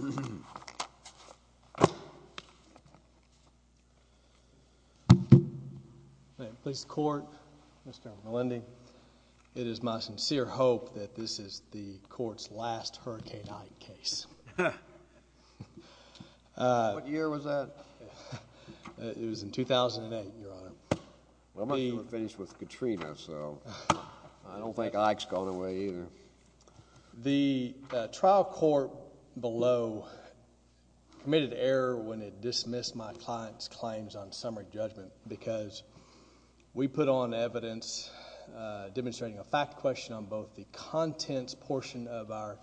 Mr. Melendi, it is my sincere hope that this is the court's last Hurricane Ike case. What year was that? It was in 2008, Your Honor. Well, I'm not going to finish with Katrina, so I don't think Ike's gone away either. The trial court below committed error when it dismissed my client's claims on summary judgment because we put on evidence demonstrating a fact question on both the contents portion of our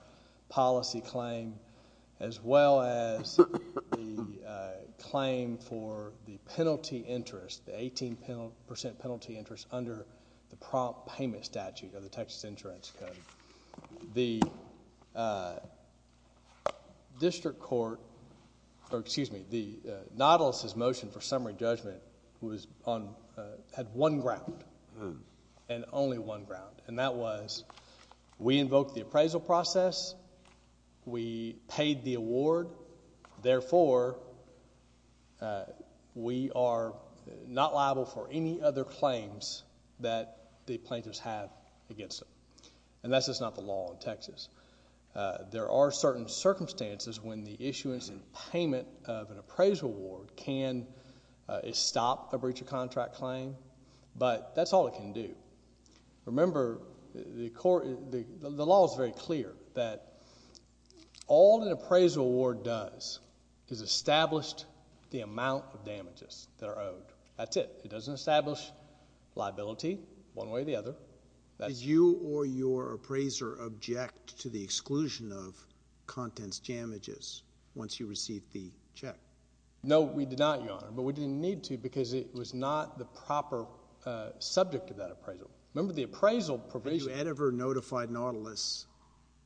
policy claim as well as the claim for the penalty interest, the 18% penalty interest under the prompt payment statute of the Texas Insurance Code. The district court, or excuse me, Nautilus' motion for summary judgment had one ground, and only one ground, and that was we invoked the appraisal process, we paid the award, therefore we are not liable for any other claims that the plaintiffs have against them. And that's just not the law in Texas. There are certain circumstances when the issuance and payment of an appraisal award can stop a breach of contract claim, but that's all it can do. Remember, the law is very clear that all an appraisal award does is establish the amount of damages that are owed. That's it. It doesn't establish liability one way or the other. Did you or your appraiser object to the exclusion of contents damages once you received the check? No, we did not, Your Honor, but we didn't need to because it was not the proper subject of that appraisal. Remember, the appraisal provision... Had you ever notified Nautilus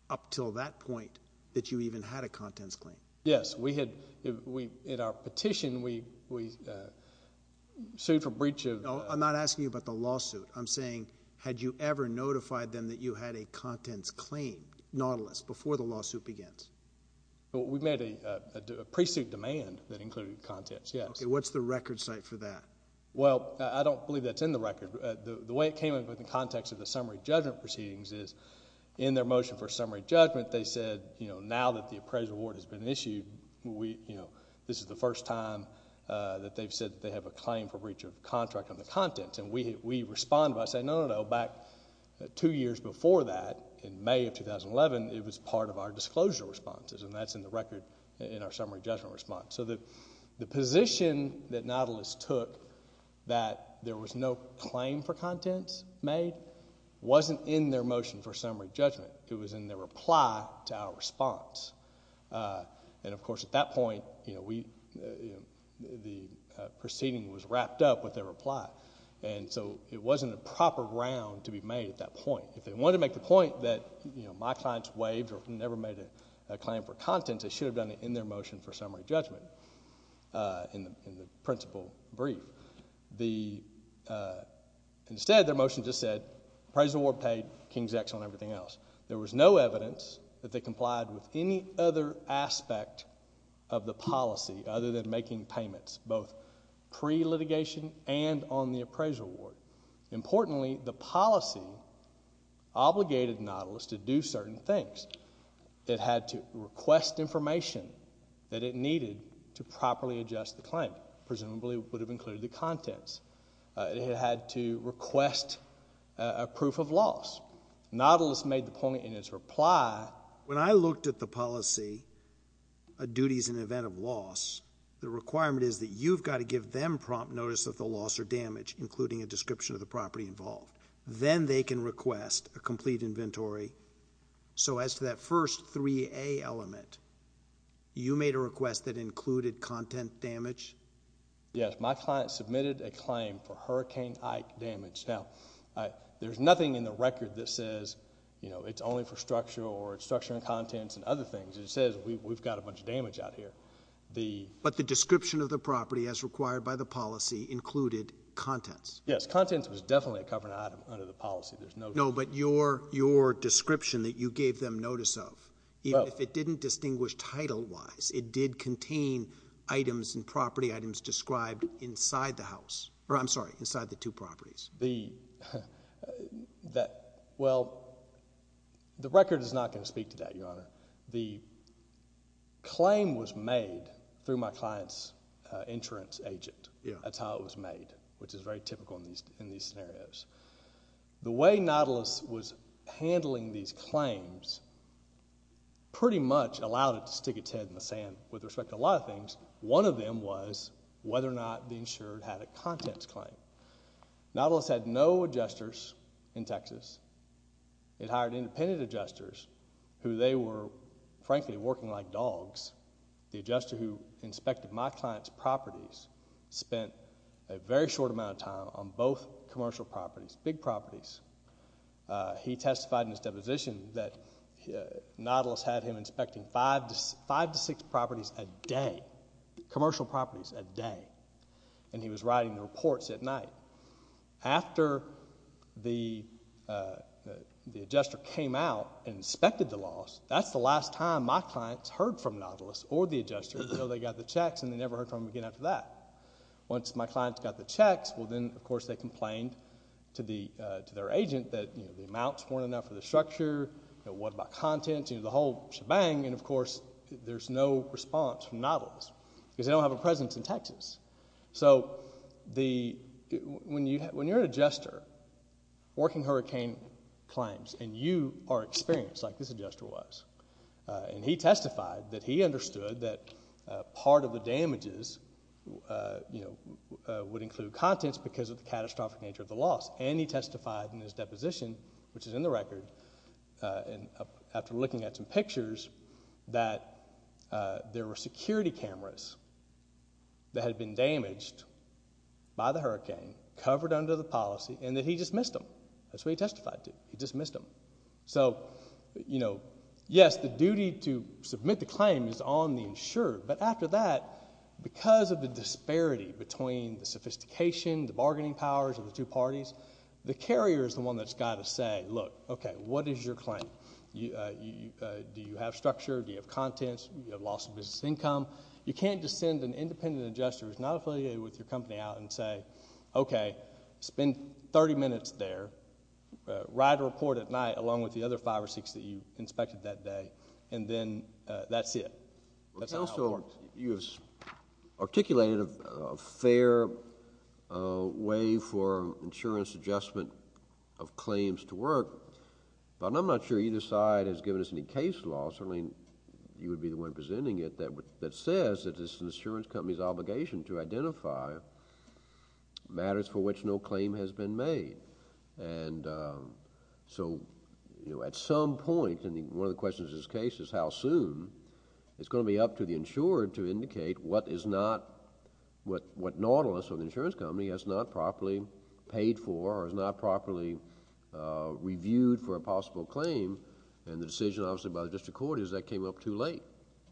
up until that point that you even had a contents claim? Yes, we had. In our petition, we sued for breach of... No, I'm not asking you about the lawsuit. I'm saying had you ever notified them that you had a contents claim, Nautilus, before the lawsuit begins? We made a pre-suit demand that included contents, yes. Okay, what's the record site for that? Well, I don't believe that's in the record. The way it came up in the context of the summary judgment proceedings is in their motion for summary judgment, they said, you know, now that the appraisal award has been issued, this is the first time that they've said that they have a claim for breach of contract on the contents. And we responded by saying, no, no, no. Back two years before that, in May of 2011, it was part of our disclosure responses, and that's in the record in our summary judgment response. So the position that Nautilus took, that there was no claim for contents made, wasn't in their motion for summary judgment. It was in their reply to our response. And, of course, at that point, you know, the proceeding was wrapped up with their reply. And so it wasn't a proper round to be made at that point. If they wanted to make the point that, you know, my clients waived or never made a claim for contents, they should have done it in their motion for summary judgment in the principal brief. Instead, their motion just said appraisal award paid, King's X on everything else. There was no evidence that they complied with any other aspect of the policy other than making payments, both pre-litigation and on the appraisal award. Importantly, the policy obligated Nautilus to do certain things. It had to request information that it needed to properly adjust the claim, presumably would have included the contents. It had to request a proof of loss. Nautilus made the point in his reply. When I looked at the policy, a duty is an event of loss. The requirement is that you've got to give them prompt notice of the loss or damage, including a description of the property involved. Then they can request a complete inventory. So as to that first 3A element, you made a request that included content damage? Yes, my client submitted a claim for Hurricane Ike damage. Now, there's nothing in the record that says it's only for structural or structural contents and other things. It says we've got a bunch of damage out here. But the description of the property, as required by the policy, included contents? Yes, contents was definitely a covered item under the policy. No, but your description that you gave them notice of, even if it didn't distinguish title-wise, it did contain items and property items described inside the house. Or I'm sorry, inside the two properties. Well, the record is not going to speak to that, Your Honor. The claim was made through my client's insurance agent. That's how it was made, which is very typical in these scenarios. The way Nautilus was handling these claims pretty much allowed it to stick its head in the sand with respect to a lot of things. One of them was whether or not the insurer had a contents claim. Nautilus had no adjusters in Texas. It hired independent adjusters who they were, frankly, working like dogs. The adjuster who inspected my client's properties spent a very short amount of time on both commercial properties, big properties. He testified in his deposition that Nautilus had him inspecting five to six properties a day, commercial properties a day. And he was writing the reports at night. After the adjuster came out and inspected the loss, that's the last time my clients heard from Nautilus or the adjuster until they got the checks and they never heard from him again after that. Once my clients got the checks, well, then, of course, they complained to their agent that the amounts weren't enough for the structure, what about contents, the whole shebang. And, of course, there's no response from Nautilus because they don't have a presence in Texas. So when you're an adjuster, working hurricane claims, and you are experienced like this adjuster was. And he testified that he understood that part of the damages would include contents because of the catastrophic nature of the loss. And he testified in his deposition, which is in the record, after looking at some pictures, that there were security cameras that had been damaged by the hurricane, covered under the policy, and that he just missed them. That's what he testified to. He just missed them. So, you know, yes, the duty to submit the claim is on the insured. But after that, because of the disparity between the sophistication, the bargaining powers of the two parties, the carrier is the one that's got to say, look, okay, what is your claim? Do you have structure? Do you have contents? Do you have loss of business income? You can't just send an independent adjuster who's not affiliated with your company out and say, okay, spend 30 minutes there. Write a report at night, along with the other five or six that you inspected that day, and then that's it. Counsel, you have articulated a fair way for insurance adjustment of claims to work, but I'm not sure either side has given us any case law, certainly you would be the one presenting it, that says that it's an insurance company's obligation to identify matters for which no claim has been made. And so, you know, at some point, and one of the questions in this case is how soon, it's going to be up to the insurer to indicate what is not, what Nautilus, or the insurance company, has not properly paid for or has not properly reviewed for a possible claim. And the decision, obviously, by the district court is that came up too late.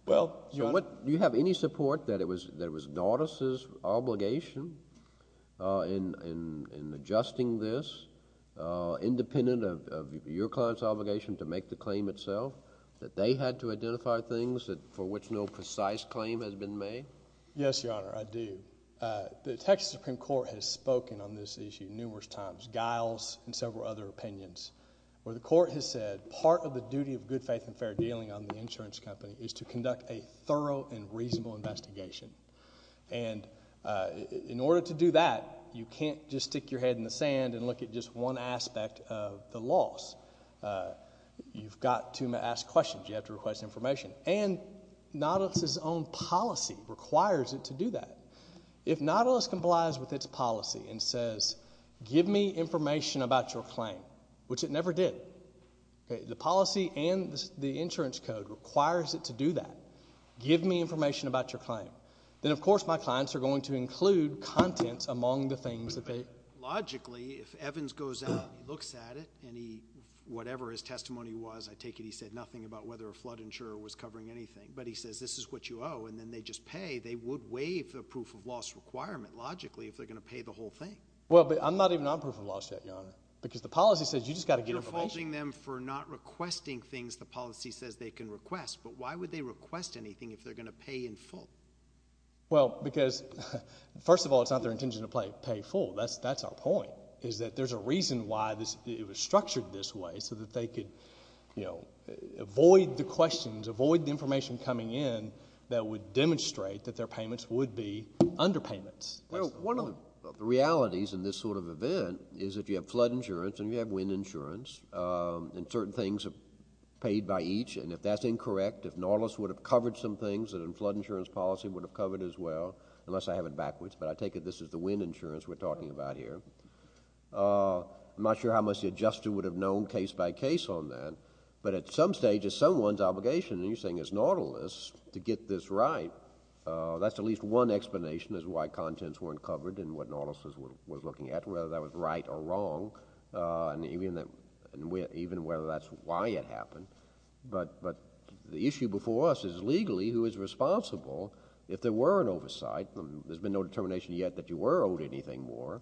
Well, Your Honor. Do you have any support that it was Nautilus' obligation in adjusting this, independent of your client's obligation to make the claim itself, that they had to identify things for which no precise claim has been made? Yes, Your Honor, I do. The Texas Supreme Court has spoken on this issue numerous times, Giles and several other opinions, where the court has said part of the duty of good faith and fair dealing on the insurance company is to conduct a thorough and reasonable investigation. And in order to do that, you can't just stick your head in the sand and look at just one aspect of the loss. You've got to ask questions. You have to request information. And Nautilus' own policy requires it to do that. If Nautilus complies with its policy and says, give me information about your claim, which it never did, the policy and the insurance code requires it to do that, give me information about your claim, then, of course, my clients are going to include contents among the things that they... Logically, if Evans goes out and he looks at it and he, whatever his testimony was, I take it he said nothing about whether a flood insurer was covering anything, but he says this is what you owe, and then they just pay, they would waive the proof of loss requirement, logically, if they're going to pay the whole thing. Well, but I'm not even on proof of loss yet, Your Honor, because the policy says you've just got to get information. You're faulting them for not requesting things the policy says they can request, but why would they request anything if they're going to pay in full? Well, because, first of all, it's not their intention to pay full. That's our point, is that there's a reason why it was structured this way, so that they could avoid the questions, avoid the information coming in that would demonstrate that their payments would be underpayments. One of the realities in this sort of event is that you have flood insurance and you have wind insurance, and certain things are paid by each, and if that's incorrect, if Norlis would have covered some things, then flood insurance policy would have covered as well, unless I have it backwards, but I take it this is the wind insurance we're talking about here. I'm not sure how much the adjuster would have known case by case on that, but at some stage it's someone's obligation, and you're saying it's Norlis, to get this right. That's at least one explanation as to why contents weren't covered and what Norlis was looking at, whether that was right or wrong, and even whether that's why it happened, but the issue before us is legally who is responsible if there were an oversight. There's been no determination yet that you were owed anything more.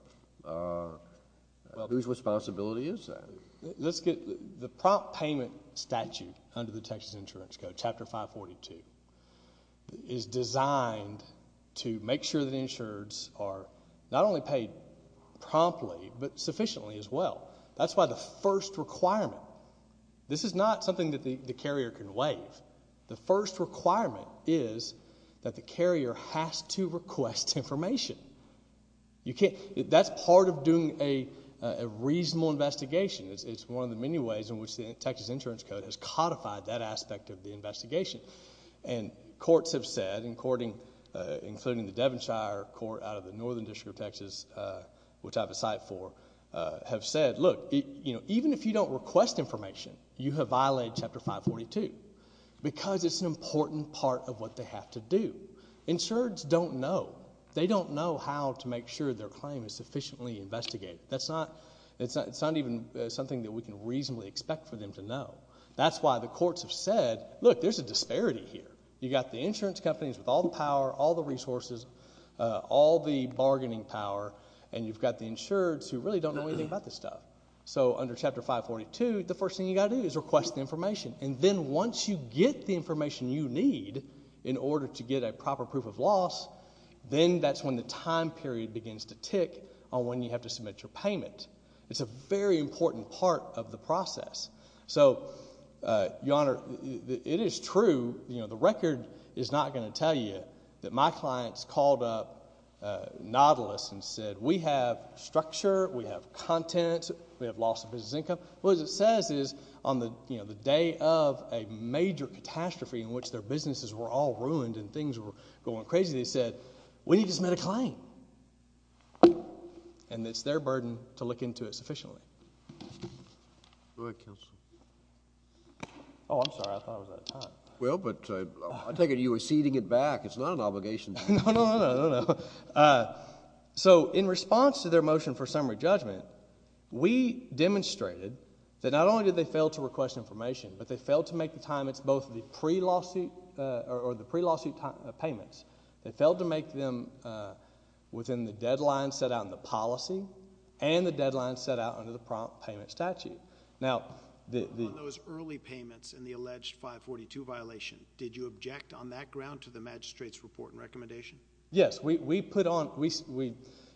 Whose responsibility is that? The prompt payment statute under the Texas Insurance Code, Chapter 542, is designed to make sure that insurers are not only paid promptly, but sufficiently as well. That's why the first requirement, this is not something that the carrier can waive. The first requirement is that the carrier has to request information. That's part of doing a reasonable investigation. It's one of the many ways in which the Texas Insurance Code has codified that aspect of the investigation, and courts have said, including the Devonshire Court out of the Northern District of Texas, which I have a site for, have said, look, even if you don't request information, you have violated Chapter 542 because it's an important part of what they have to do. Insureds don't know. They don't know how to make sure their claim is sufficiently investigated. That's not even something that we can reasonably expect for them to know. That's why the courts have said, look, there's a disparity here. You've got the insurance companies with all the power, all the resources, all the bargaining power, and you've got the insureds who really don't know anything about this stuff. So under Chapter 542, the first thing you've got to do is request the information, and then once you get the information you need in order to get a proper proof of loss, then that's when the time period begins to tick on when you have to submit your payment. It's a very important part of the process. So, Your Honor, it is true. The record is not going to tell you that my clients called up Nautilus and said, we have structure, we have content, we have loss of business income. What it says is on the day of a major catastrophe in which their businesses were all ruined and things were going crazy, they said, we need to submit a claim. And it's their burden to look into it sufficiently. Go ahead, counsel. Oh, I'm sorry. I thought I was out of time. Well, but I take it you were ceding it back. It's not an obligation. No, no, no. So in response to their motion for summary judgment, we demonstrated that not only did they fail to request information, but they failed to make the time, it's both the pre-lawsuit payments, they failed to make them within the deadline set out in the policy and the deadline set out under the prompt payment statute. Now, on those early payments and the alleged 542 violation, did you object on that ground to the magistrate's report and recommendation? Yes. We put on,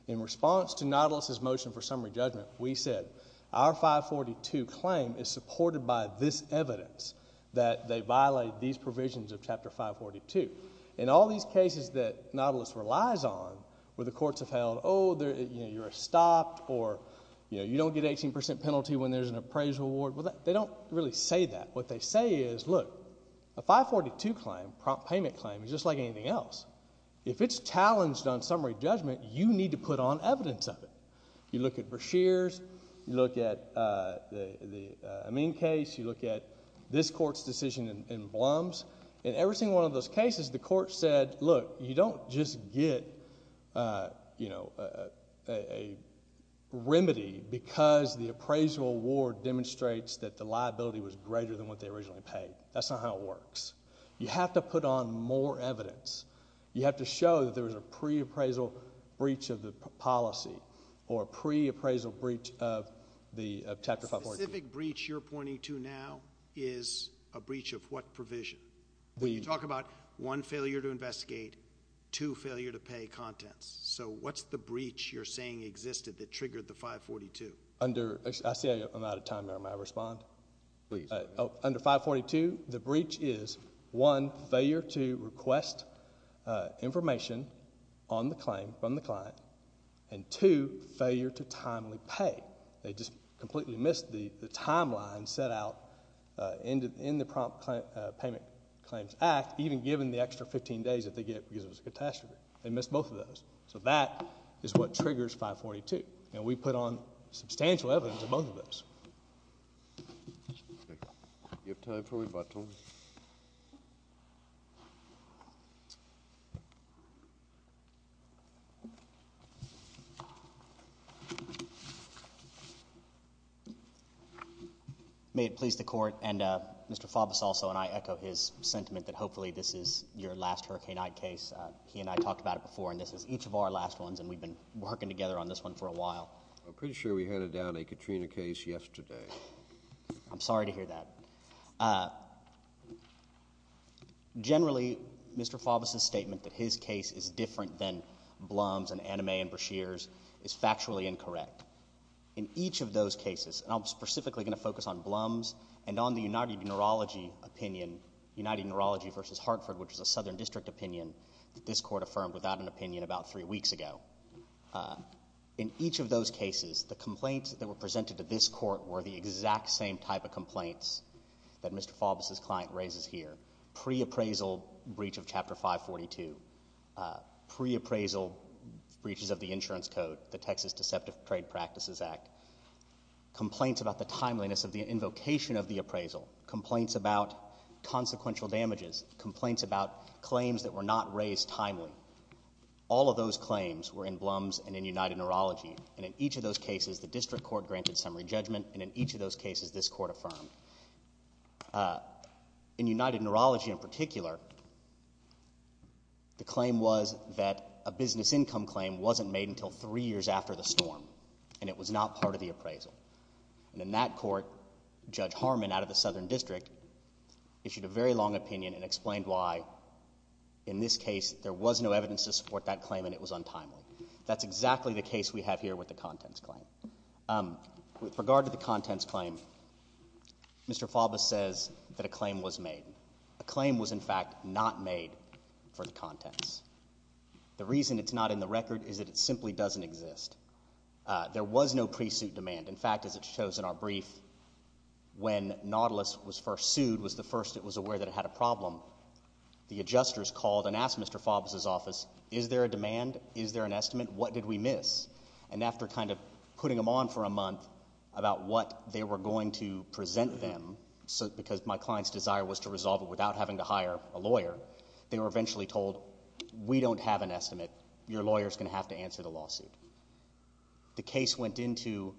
in response to Nautilus' motion for summary judgment, we said our 542 claim is supported by this evidence that they violate these provisions of Chapter 542. In all these cases that Nautilus relies on where the courts have held, oh, you're stopped or you don't get an 18% penalty when there's an appraisal award, well, they don't really say that. What they say is, look, a 542 claim, prompt payment claim, is just like anything else. If it's challenged on summary judgment, you need to put on evidence of it. You look at Breshears. You look at the Amin case. You look at this court's decision in Blum's. In every single one of those cases, the court said, look, you don't just get a remedy because the appraisal award demonstrates that the liability was greater than what they originally paid. That's not how it works. You have to put on more evidence. You have to show that there was a pre-appraisal breach of the policy or a pre-appraisal breach of Chapter 542. The specific breach you're pointing to now is a breach of what provision? You talk about one failure to investigate, two failure to pay contents. So what's the breach you're saying existed that triggered the 542? I see I'm out of time there. May I respond? Please. Under 542, the breach is, one, failure to request information on the claim from the client, and two, failure to timely pay. They just completely missed the timeline set out in the Prompt Payment Claims Act, even given the extra 15 days that they get because it was a catastrophe. They missed both of those. So that is what triggers 542. And we put on substantial evidence in both of those. Do you have time for rebuttal? May it please the Court, and Mr. Faubus also, and I echo his sentiment that hopefully this is your last Hurricane Ike case. He and I talked about it before, and this is each of our last ones, and we've been working together on this one for a while. I'm pretty sure we handed down a Katrina case yesterday. I'm sorry to hear that. Generally, Mr. Faubus's statement that his case is different than Blum's and Annemey and Brashear's is factually incorrect. In each of those cases, and I'm specifically going to focus on Blum's and on the United Neurology opinion, United Neurology v. Hartford, which is a Southern District opinion that this Court affirmed without an opinion about three weeks ago, in each of those cases, the complaints that were presented to this Court were the exact same type of complaints that Mr. Faubus's client raises here, pre-appraisal breach of Chapter 542, pre-appraisal breaches of the insurance code, the Texas Deceptive Trade Practices Act, complaints about the timeliness of the invocation of the appraisal, complaints about consequential damages, complaints about claims that were not raised timely. All of those claims were in Blum's and in United Neurology, and in each of those cases, the District Court granted summary judgment, and in each of those cases, this Court affirmed. In United Neurology in particular, the claim was that a business income claim wasn't made until three years after the storm, and it was not part of the appraisal. And in that court, Judge Harmon, out of the Southern District, issued a very long opinion and explained why, in this case, there was no evidence to support that claim and it was untimely. That's exactly the case we have here with the contents claim. With regard to the contents claim, Mr. Faubus says that a claim was made. A claim was, in fact, not made for the contents. The reason it's not in the record is that it simply doesn't exist. There was no pre-suit demand. In fact, as it shows in our brief, when Nautilus was first sued, was the first that was aware that it had a problem. The adjusters called and asked Mr. Faubus' office, is there a demand, is there an estimate, what did we miss? And after kind of putting them on for a month about what they were going to present them, because my client's desire was to resolve it without having to hire a lawyer, they were eventually told, we don't have an estimate. Your lawyer is going to have to answer the lawsuit. The case went into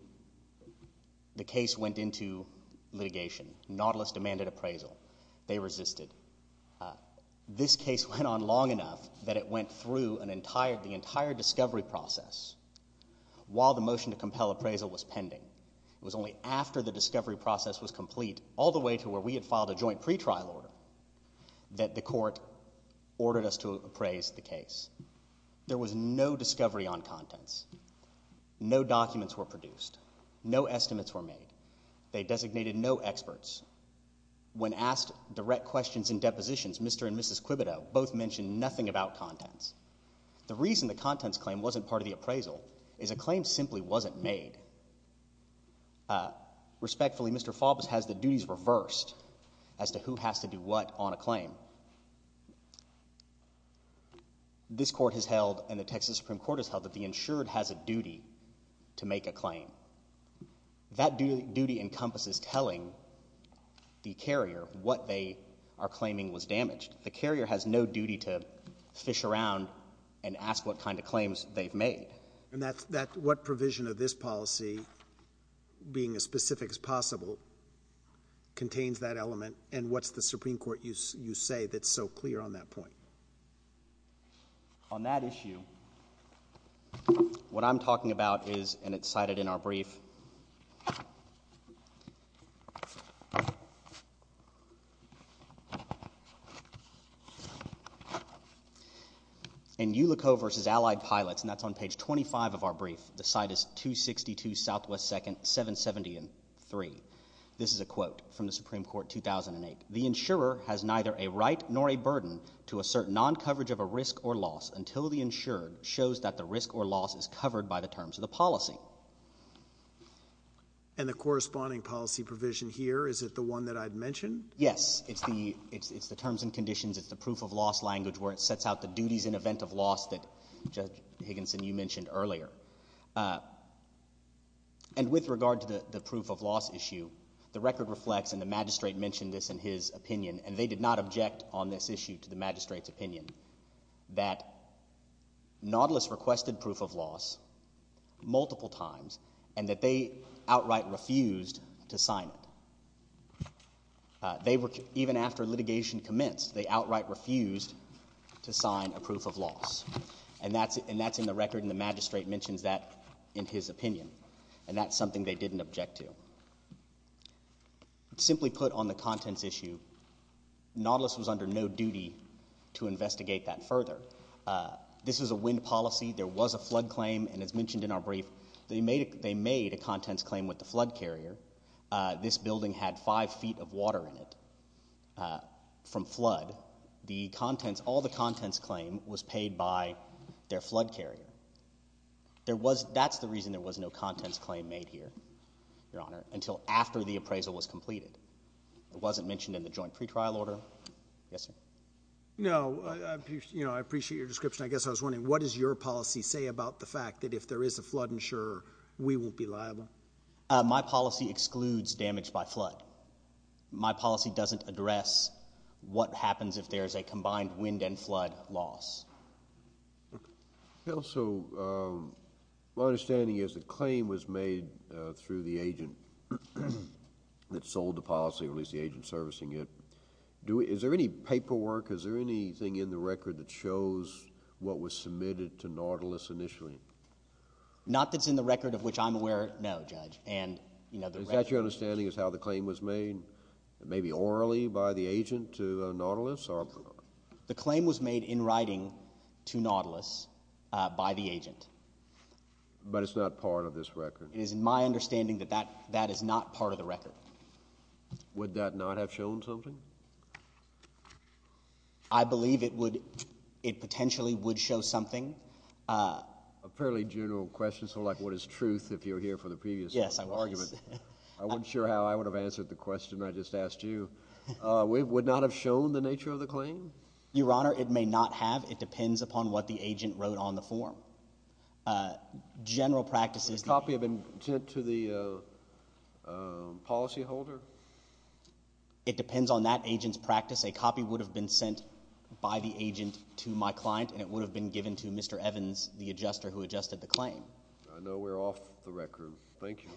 litigation. Nautilus demanded appraisal. They resisted. This case went on long enough that it went through the entire discovery process while the motion to compel appraisal was pending. It was only after the discovery process was complete, all the way to where we had filed a joint pretrial order, that the court ordered us to appraise the case. There was no discovery on contents. No documents were produced. No estimates were made. They designated no experts. When asked direct questions and depositions, Mr. and Mrs. Quibito both mentioned nothing about contents. The reason the contents claim wasn't part of the appraisal is a claim simply wasn't made. Respectfully, Mr. Faubus has the duties reversed as to who has to do what on a claim. This court has held, and the Texas Supreme Court has held, that the insured has a duty to make a claim. That duty encompasses telling the carrier what they are claiming was damaged. The carrier has no duty to fish around and ask what kind of claims they've made. What provision of this policy, being as specific as possible, contains that element, and what's the Supreme Court, you say, that's so clear on that point? On that issue, what I'm talking about is, and it's cited in our brief, in Ulico v. Allied Pilots, and that's on page 25 of our brief, the site is 262 Southwest 2nd, 773. This is a quote from the Supreme Court, 2008. And the corresponding policy provision here, is it the one that I'd mentioned? Yes. It's the terms and conditions. It's the proof of loss language where it sets out the duties in event of loss that Judge Higginson, you mentioned earlier. And with regard to the proof of loss issue, the record reflects, and the magistrate mentioned this in his opinion, and they did not object on this issue to the magistrate's opinion, that Nautilus requested proof of loss multiple times, and that they outright refused to sign it. Even after litigation commenced, they outright refused to sign a proof of loss. And that's in the record, and the magistrate mentions that in his opinion. And that's something they didn't object to. Simply put, on the contents issue, Nautilus was under no duty to investigate that further. This was a wind policy, there was a flood claim, and as mentioned in our brief, they made a contents claim with the flood carrier. This building had five feet of water in it from flood. All the contents claim was paid by their flood carrier. That's the reason there was no contents claim made here, Your Honor, until after the appraisal was completed. It wasn't mentioned in the joint pretrial order. Yes, sir. No, I appreciate your description. I guess I was wondering, what does your policy say about the fact that if there is a flood insurer, we won't be liable? My policy excludes damage by flood. My policy doesn't address what happens if there is a combined wind and flood loss. Okay. So my understanding is the claim was made through the agent that sold the policy, or at least the agent servicing it. Is there any paperwork, is there anything in the record that shows what was submitted to Nautilus initially? Not that it's in the record of which I'm aware, no, Judge. Is that your understanding is how the claim was made? Maybe orally by the agent to Nautilus? The claim was made in writing to Nautilus by the agent. But it's not part of this record? It is my understanding that that is not part of the record. Would that not have shown something? I believe it potentially would show something. A fairly general question, sort of like what is truth, if you were here for the previous argument. Yes, I was. I wasn't sure how I would have answered the question I just asked you. Would it not have shown the nature of the claim? Your Honor, it may not have. It depends upon what the agent wrote on the form. General practices. A copy of intent to the policyholder? It depends on that agent's practice. A copy would have been sent by the agent to my client, and it would have been given to Mr. Evans, the adjuster who adjusted the claim. I know we're off the record. Thank you.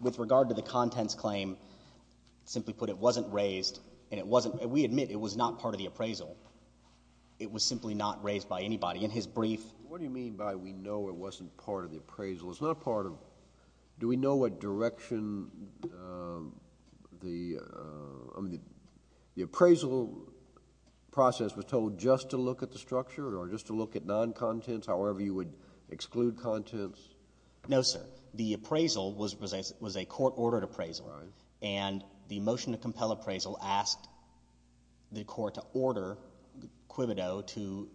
With regard to the contents claim, simply put, it wasn't raised. We admit it was not part of the appraisal. It was simply not raised by anybody. In his brief – What do you mean by we know it wasn't part of the appraisal? Do we know what direction the appraisal process was told just to look at the structure or just to look at non-contents, however you would exclude contents? No, sir. The appraisal was a court-ordered appraisal, and the motion to compel appraisal asked the court to order Quibido to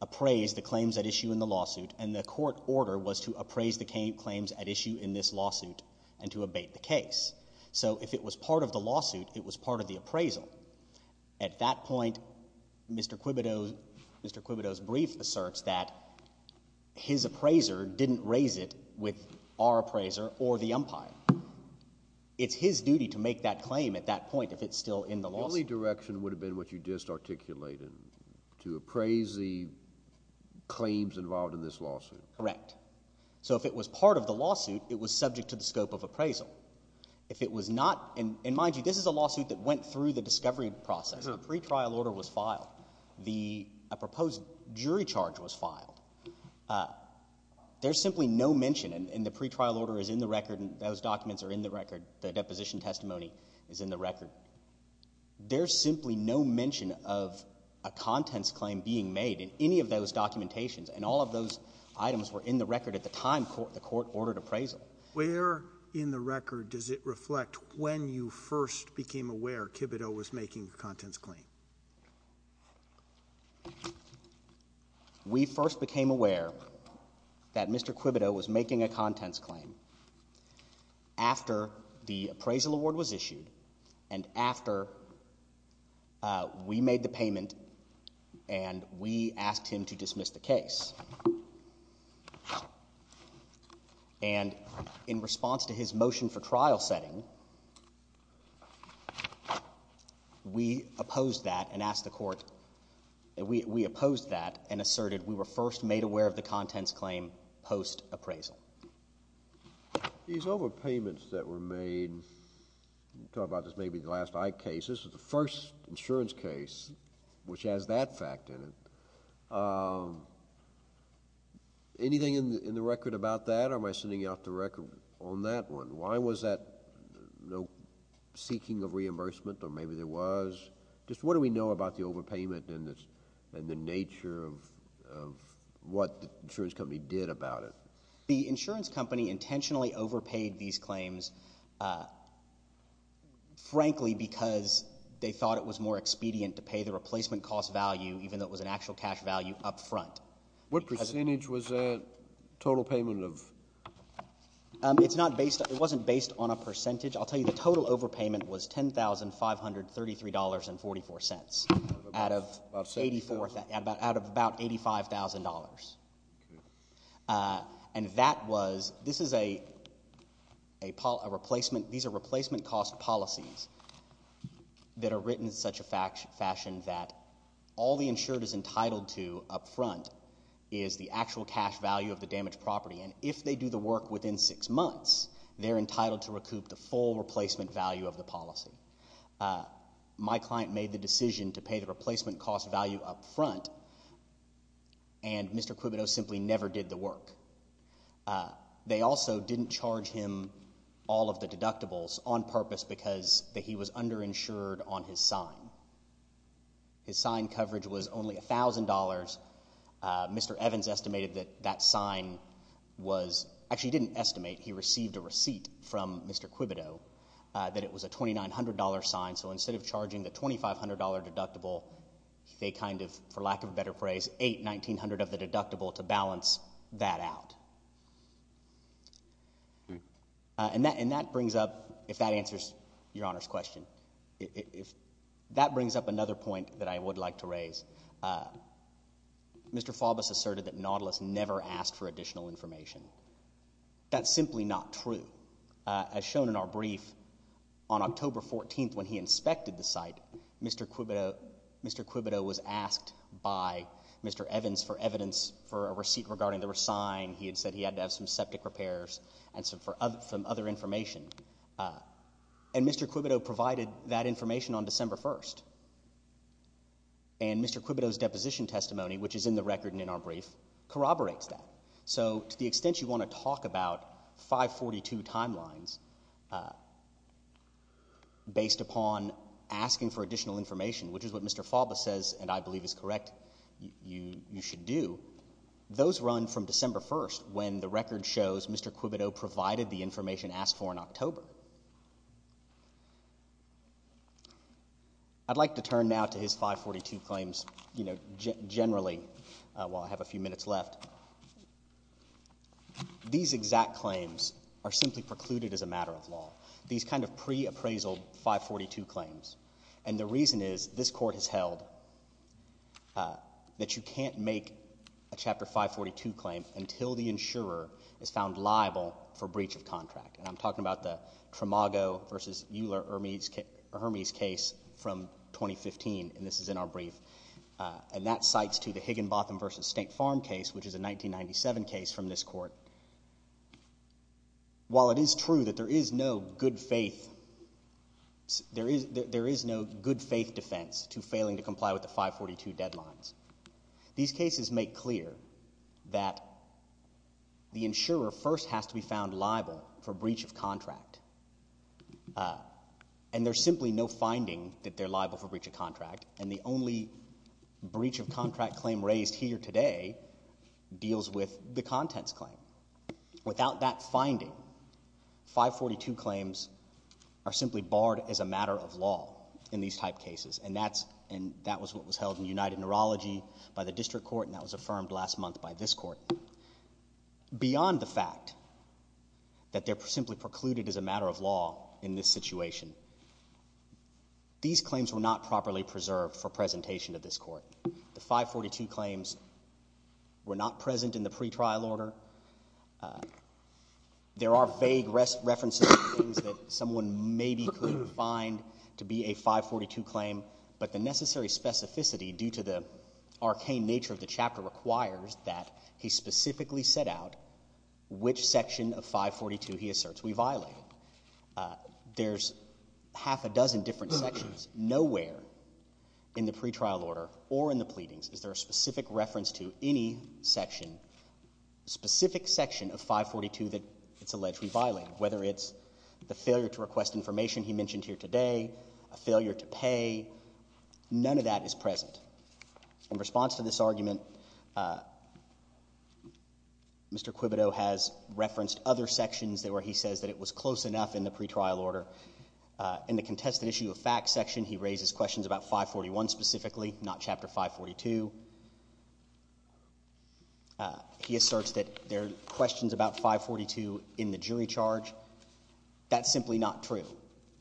appraise the claims at issue in the lawsuit, and the court order was to appraise the claims at issue in this lawsuit and to abate the case. So if it was part of the lawsuit, it was part of the appraisal. At that point, Mr. Quibido's brief asserts that his appraiser didn't raise it with our appraiser or the umpire. It's his duty to make that claim at that point if it's still in the lawsuit. The only direction would have been what you just articulated, to appraise the claims involved in this lawsuit. Correct. So if it was part of the lawsuit, it was subject to the scope of appraisal. If it was not – and mind you, this is a lawsuit that went through the discovery process. A pretrial order was filed. A proposed jury charge was filed. There's simply no mention, and the pretrial order is in the record, and those documents are in the record. The deposition testimony is in the record. There's simply no mention of a contents claim being made in any of those documentations, and all of those items were in the record at the time the court ordered appraisal. Where in the record does it reflect when you first became aware Quibido was making a contents claim? We first became aware that Mr. Quibido was making a contents claim after the appraisal award was issued and after we made the payment and we asked him to dismiss the case. And in response to his motion for trial setting, we opposed that and asked the court – we opposed that and asserted we were first made aware of the contents claim post-appraisal. These overpayments that were made – we'll talk about this maybe in the last Ike case. This was the first insurance case which has that fact in it. Anything in the record about that, or am I sending you off the record on that one? Why was there no seeking of reimbursement, or maybe there was? Just what do we know about the overpayment and the nature of what the insurance company did about it? The insurance company intentionally overpaid these claims, frankly, because they thought it was more expedient to pay the replacement cost value even though it was an actual cash value up front. What percentage was that total payment of? It's not based – it wasn't based on a percentage. I'll tell you the total overpayment was $10,533.44 out of about $85,000. And that was – this is a replacement – these are replacement cost policies that are written in such a fashion that all the insured is entitled to up front is the actual cash value of the damaged property. And if they do the work within six months, they're entitled to recoup the full replacement value of the policy. My client made the decision to pay the replacement cost value up front, and Mr. Quibito simply never did the work. They also didn't charge him all of the deductibles on purpose because he was underinsured on his sign. His sign coverage was only $1,000. Mr. Evans estimated that that sign was – actually, he didn't estimate. He received a receipt from Mr. Quibito that it was a $2,900 sign. So instead of charging the $2,500 deductible, they kind of, for lack of a better phrase, ate $1,900 of the deductible to balance that out. And that brings up – if that answers Your Honor's question – that brings up another point that I would like to raise. Mr. Faubus asserted that Nautilus never asked for additional information. That's simply not true. As shown in our brief, on October 14th when he inspected the site, Mr. Quibito was asked by Mr. Evans for evidence for a receipt regarding the sign. He had said he had to have some septic repairs and some other information. And Mr. Quibito provided that information on December 1st. And Mr. Quibito's deposition testimony, which is in the record and in our brief, corroborates that. So to the extent you want to talk about 542 timelines based upon asking for additional information, which is what Mr. Faubus says, and I believe is correct, you should do, those run from December 1st when the record shows Mr. Quibito provided the information asked for in October. I'd like to turn now to his 542 claims generally while I have a few minutes left. These exact claims are simply precluded as a matter of law. These kind of pre-appraisal 542 claims. And the reason is this Court has held that you can't make a Chapter 542 claim until the insurer is found liable for breach of contract. And I'm talking about the Tramago v. Euler-Hermes case from 2015, and this is in our brief. And that cites to the Higginbotham v. Stank Farm case, which is a 1997 case from this Court. While it is true that there is no good faith defense to failing to comply with the 542 deadlines, these cases make clear that the insurer first has to be found liable for breach of contract. And there's simply no finding that they're liable for breach of contract, and the only breach of contract claim raised here today deals with the contents claim. Without that finding, 542 claims are simply barred as a matter of law in these type cases, and that was what was held in United Neurology by the District Court, and that was affirmed last month by this Court. Beyond the fact that they're simply precluded as a matter of law in this situation, these claims were not properly preserved for presentation to this Court. The 542 claims were not present in the pretrial order. There are vague references to things that someone maybe could find to be a 542 claim, but the necessary specificity due to the arcane nature of the chapter requires that he specifically set out which section of 542 he asserts we violate. There's half a dozen different sections nowhere in the pretrial order or in the pleadings is there a specific reference to any section, specific section of 542 that it's alleged we violate, whether it's the failure to request information he mentioned here today, a failure to pay. None of that is present. In response to this argument, Mr. Quibito has referenced other sections where he says that it was close enough in the pretrial order. In the contested issue of facts section, he raises questions about 541 specifically, not Chapter 542. He asserts that there are questions about 542 in the jury charge. That's simply not true.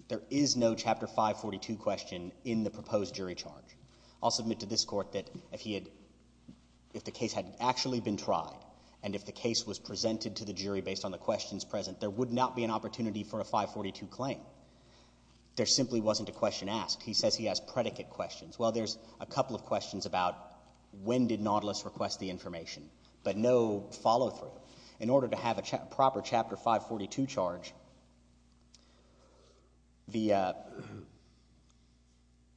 There is no Chapter 542 question in the proposed jury charge. I'll submit to this Court that if the case had actually been tried and if the case was presented to the jury based on the questions present, there would not be an opportunity for a 542 claim. There simply wasn't a question asked. He says he has predicate questions. Well, there's a couple of questions about when did Nautilus request the information, but no follow-through. In order to have a proper Chapter 542 charge, the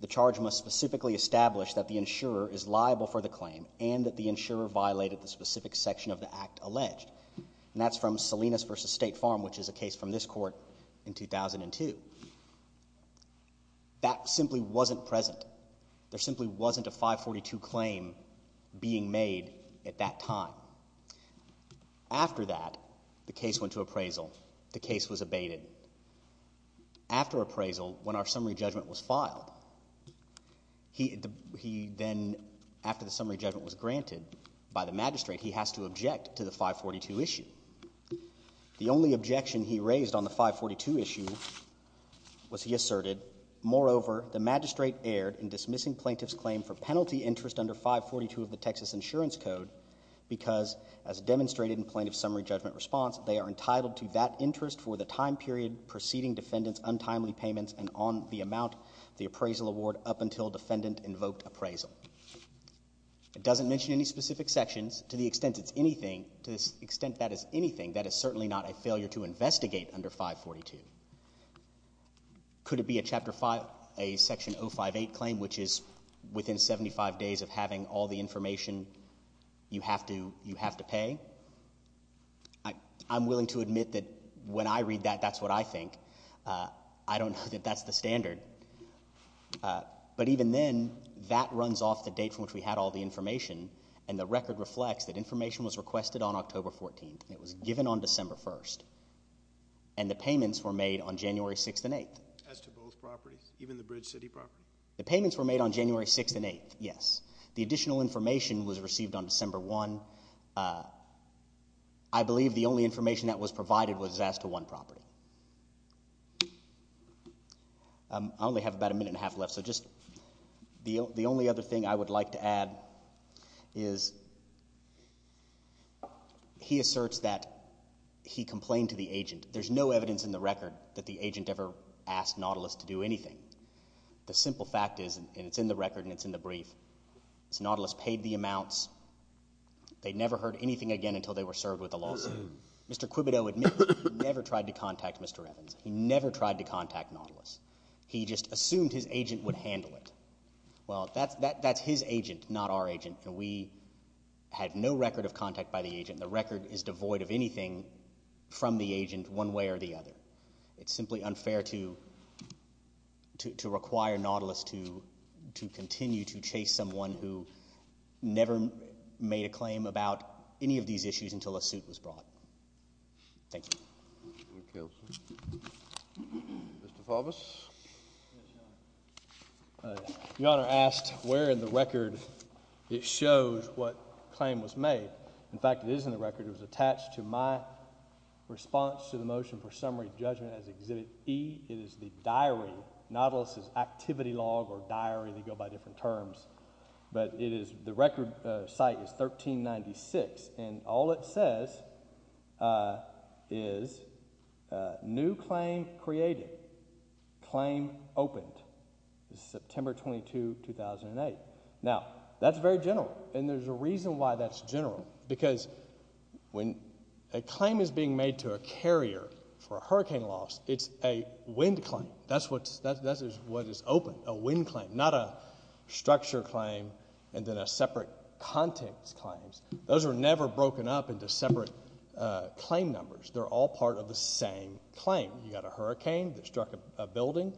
charge must specifically establish that the insurer is liable for the claim and that the insurer violated the specific section of the act alleged. And that's from Salinas v. State Farm, which is a case from this Court in 2002. That simply wasn't present. There simply wasn't a 542 claim being made at that time. After that, the case went to appraisal. The case was abated. After appraisal, when our summary judgment was filed, he then, after the summary judgment was granted by the magistrate, stated that he has to object to the 542 issue. The only objection he raised on the 542 issue was he asserted, moreover, the magistrate erred in dismissing plaintiff's claim for penalty interest under 542 of the Texas Insurance Code because, as demonstrated in plaintiff's summary judgment response, they are entitled to that interest for the time period preceding defendant's untimely payments and on the amount of the appraisal award up until defendant invoked appraisal. It doesn't mention any specific sections. To the extent it's anything, to the extent that is anything, that is certainly not a failure to investigate under 542. Could it be a Section 058 claim, which is within 75 days of having all the information you have to pay? I'm willing to admit that when I read that, that's what I think. I don't know that that's the standard. But even then, that runs off the date from which we had all the information, and the record reflects that information was requested on October 14th. It was given on December 1st, and the payments were made on January 6th and 8th. As to both properties, even the Bridge City property? The payments were made on January 6th and 8th, yes. The additional information was received on December 1. I believe the only information that was provided was as to one property. I only have about a minute and a half left, so just the only other thing I would like to add is he asserts that he complained to the agent. There's no evidence in the record that the agent ever asked Nautilus to do anything. The simple fact is, and it's in the record and it's in the brief, is Nautilus paid the amounts. They never heard anything again until they were served with a lawsuit. Mr. Quibito admitted he never tried to contact Mr. Evans. He never tried to contact Nautilus. He just assumed his agent would handle it. Well, that's his agent, not our agent, and we had no record of contact by the agent. The record is devoid of anything from the agent one way or the other. It's simply unfair to require Nautilus to continue to chase someone who never made a claim about any of these issues until a suit was brought. Thank you. Thank you, Counsel. Mr. Faubus. Yes, Your Honor. Your Honor asked where in the record it shows what claim was made. In fact, it is in the record. It was attached to my response to the motion for summary judgment as Exhibit E. It is the diary. Nautilus's activity log or diary. They go by different terms. But it is the record site is 1396, and all it says is new claim created. Claim opened. It's September 22, 2008. Now, that's very general, and there's a reason why that's general. Because when a claim is being made to a carrier for a hurricane loss, it's a wind claim. That's what is open, a wind claim, not a structure claim and then a separate context claim. Those are never broken up into separate claim numbers. They're all part of the same claim. You've got a hurricane that struck a building.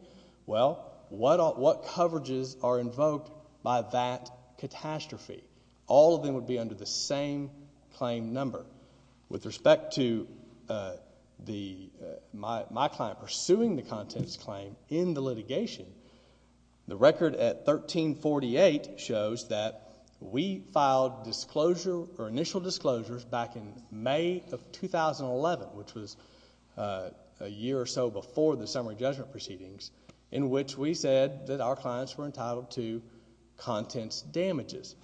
Well, what coverages are invoked by that catastrophe? All of them would be under the same claim number. With respect to my client pursuing the contents claim in the litigation, the record at 1348 shows that we filed initial disclosures back in May of 2011, which was a year or so before the summary judgment proceedings, in which we said that our clients were entitled to contents damages.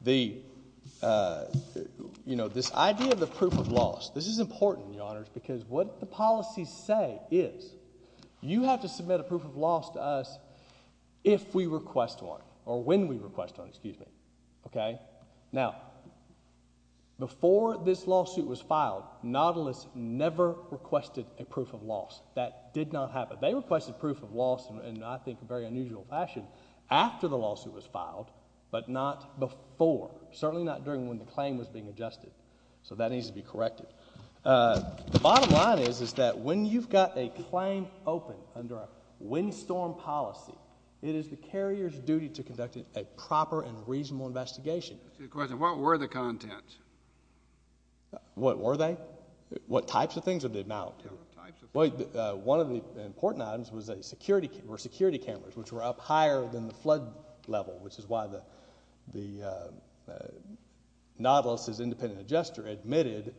This idea of the proof of loss, this is important, Your Honors, because what the policies say is you have to submit a proof of loss to us if we request one, or when we request one, excuse me. Now, before this lawsuit was filed, Nautilus never requested a proof of loss. That did not happen. They requested proof of loss in, I think, a very unusual fashion after the lawsuit was filed, but not before, certainly not during when the claim was being adjusted. So that needs to be corrected. The bottom line is that when you've got a claim open under a windstorm policy, it is the carrier's duty to conduct a proper and reasonable investigation. What were the contents? What were they? What types of things or the amount? One of the important items were security cameras, which were up higher than the flood level, which is why Nautilus, as independent adjuster, admitted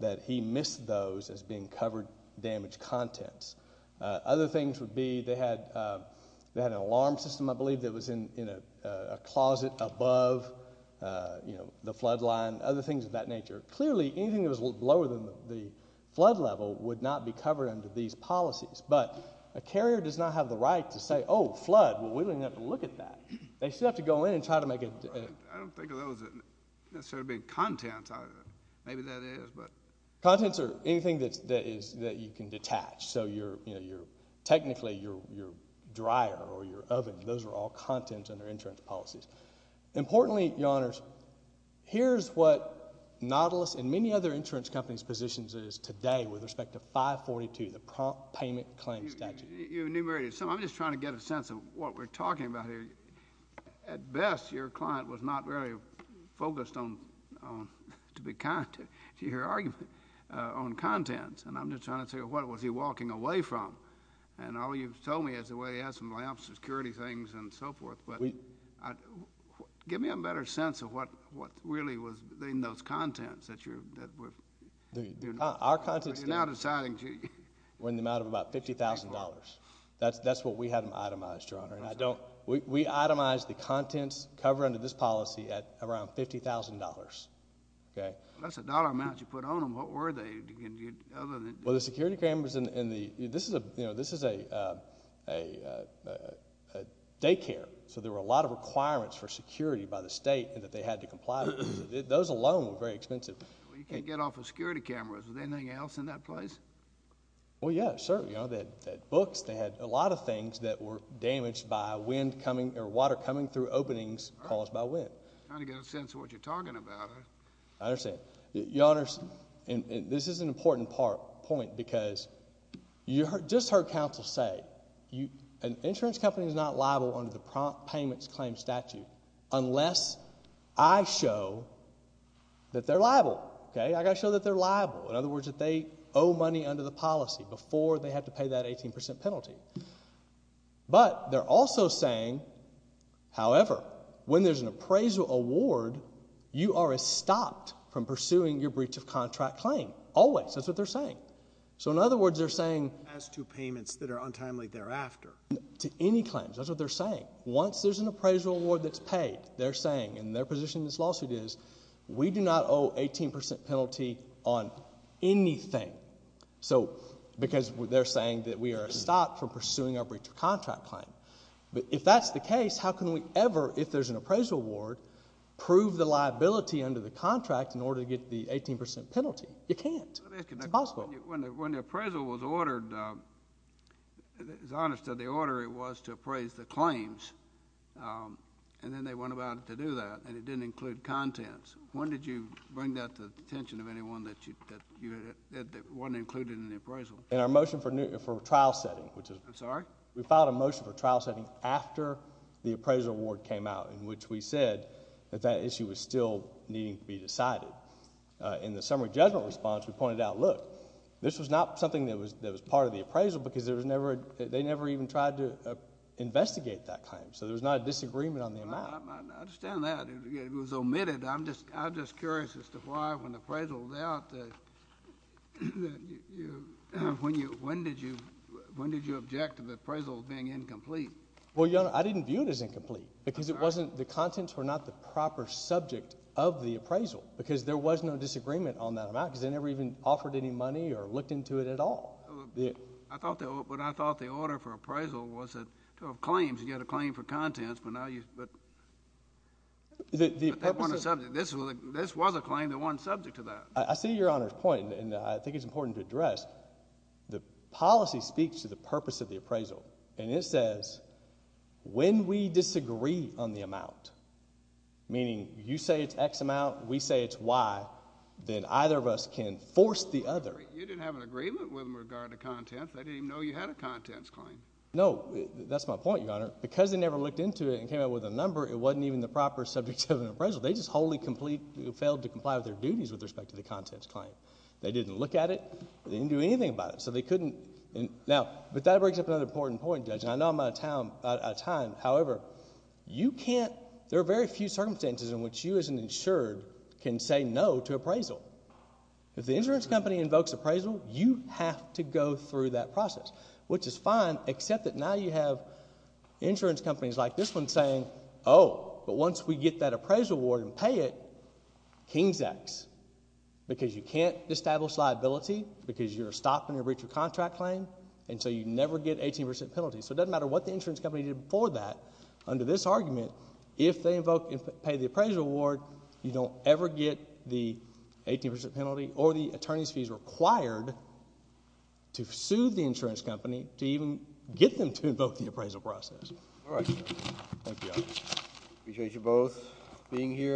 that he missed those as being covered damage contents. Other things would be they had an alarm system, I believe, that was in a closet above the flood line, other things of that nature. Clearly, anything that was lower than the flood level would not be covered under these policies, but a carrier does not have the right to say, oh, flood. Well, we don't even have to look at that. They still have to go in and try to make it. I don't think of those as necessarily being contents. Maybe that is, but. Contents are anything that you can detach. So technically your dryer or your oven, those are all contents under insurance policies. Importantly, Your Honors, here's what Nautilus and many other insurance companies' positions is today with respect to 542, the prompt payment claim statute. You enumerated some. I'm just trying to get a sense of what we're talking about here. At best, your client was not very focused on, to be kind to, your argument on contents. And I'm just trying to figure out what was he walking away from. And all you've told me is the way he had some lamps, security things, and so forth. But give me a better sense of what really was in those contents that you're... Our contents... You're now deciding... Were in the amount of about $50,000. That's what we had itemized, Your Honor. And I don't... We itemized the contents covered under this policy at around $50,000. That's a dollar amount you put on them. What were they other than... Well, the security cameras and the... This is a daycare. So there were a lot of requirements for security by the state that they had to comply with. Those alone were very expensive. You can't get off of security cameras. Was there anything else in that place? Well, yes, sir. You know, they had books. They had a lot of things that were damaged by wind coming or water coming through openings caused by wind. I don't get a sense of what you're talking about. I understand. Your Honor, this is an important point because you just heard counsel say an insurance company is not liable under the prompt payments claim statute unless I show that they're liable. Okay? I've got to show that they're liable. In other words, that they owe money under the policy before they have to pay that 18% penalty. But they're also saying, however, when there's an appraisal award, you are stopped from pursuing your breach of contract claim. Always. That's what they're saying. So in other words, they're saying... As to payments that are untimely thereafter. To any claims. That's what they're saying. Once there's an appraisal award that's paid, they're saying, and their position in this lawsuit is, we do not owe 18% penalty on anything. Because they're saying that we are stopped from pursuing our breach of contract claim. But if that's the case, how can we ever, if there's an appraisal award, prove the liability under the contract in order to get the 18% penalty? You can't. It's impossible. When the appraisal was ordered, it's honest that the order was to appraise the claims. And then they went about it to do that. And it didn't include contents. When did you bring that to the attention of anyone that it wasn't included in the appraisal? In our motion for trial setting. I'm sorry? We filed a motion for trial setting after the appraisal award came out. In which we said that that issue was still needing to be decided. In the summary judgment response, we pointed out, look, this was not something that was part of the appraisal because they never even tried to investigate that claim. So there was not a disagreement on the amount. I understand that. It was omitted. I'm just curious as to why, when the appraisal was out, when did you object to the appraisal being incomplete? Well, Your Honor, I didn't view it as incomplete. Because it wasn't, the contents were not the proper subject of the appraisal. Because there was no disagreement on that amount because they never even offered any money or looked into it at all. But I thought the order for appraisal was to have claims. You had a claim for contents, but now you, but that wasn't a subject. This was a claim that wasn't subject to that. I see Your Honor's point, and I think it's important to address. The policy speaks to the purpose of the appraisal. And it says, when we disagree on the amount, meaning you say it's X amount, we say it's Y, then either of us can force the other. You didn't have an agreement with regard to contents. They didn't even know you had a contents claim. No, that's my point, Your Honor. Because they never looked into it and came out with a number, it wasn't even the proper subject of an appraisal. They just wholly failed to comply with their duties with respect to the contents claim. They didn't look at it. They didn't do anything about it. Now, but that brings up another important point, Judge, and I know I'm out of time. However, you can't, there are very few circumstances in which you as an insured can say no to appraisal. If the insurance company invokes appraisal, you have to go through that process, which is fine, except that now you have insurance companies like this one saying, oh, but once we get that appraisal award and pay it, King's X. Because you can't establish liability because you're stopping a breach of contract claim, and so you never get 18% penalty. So it doesn't matter what the insurance company did before that. Under this argument, if they invoke and pay the appraisal award, you don't ever get the 18% penalty or the attorney's fees required to sue the insurance company to even get them to invoke the appraisal process. All right, sir. Thank you, Your Honor. Appreciate you both being here.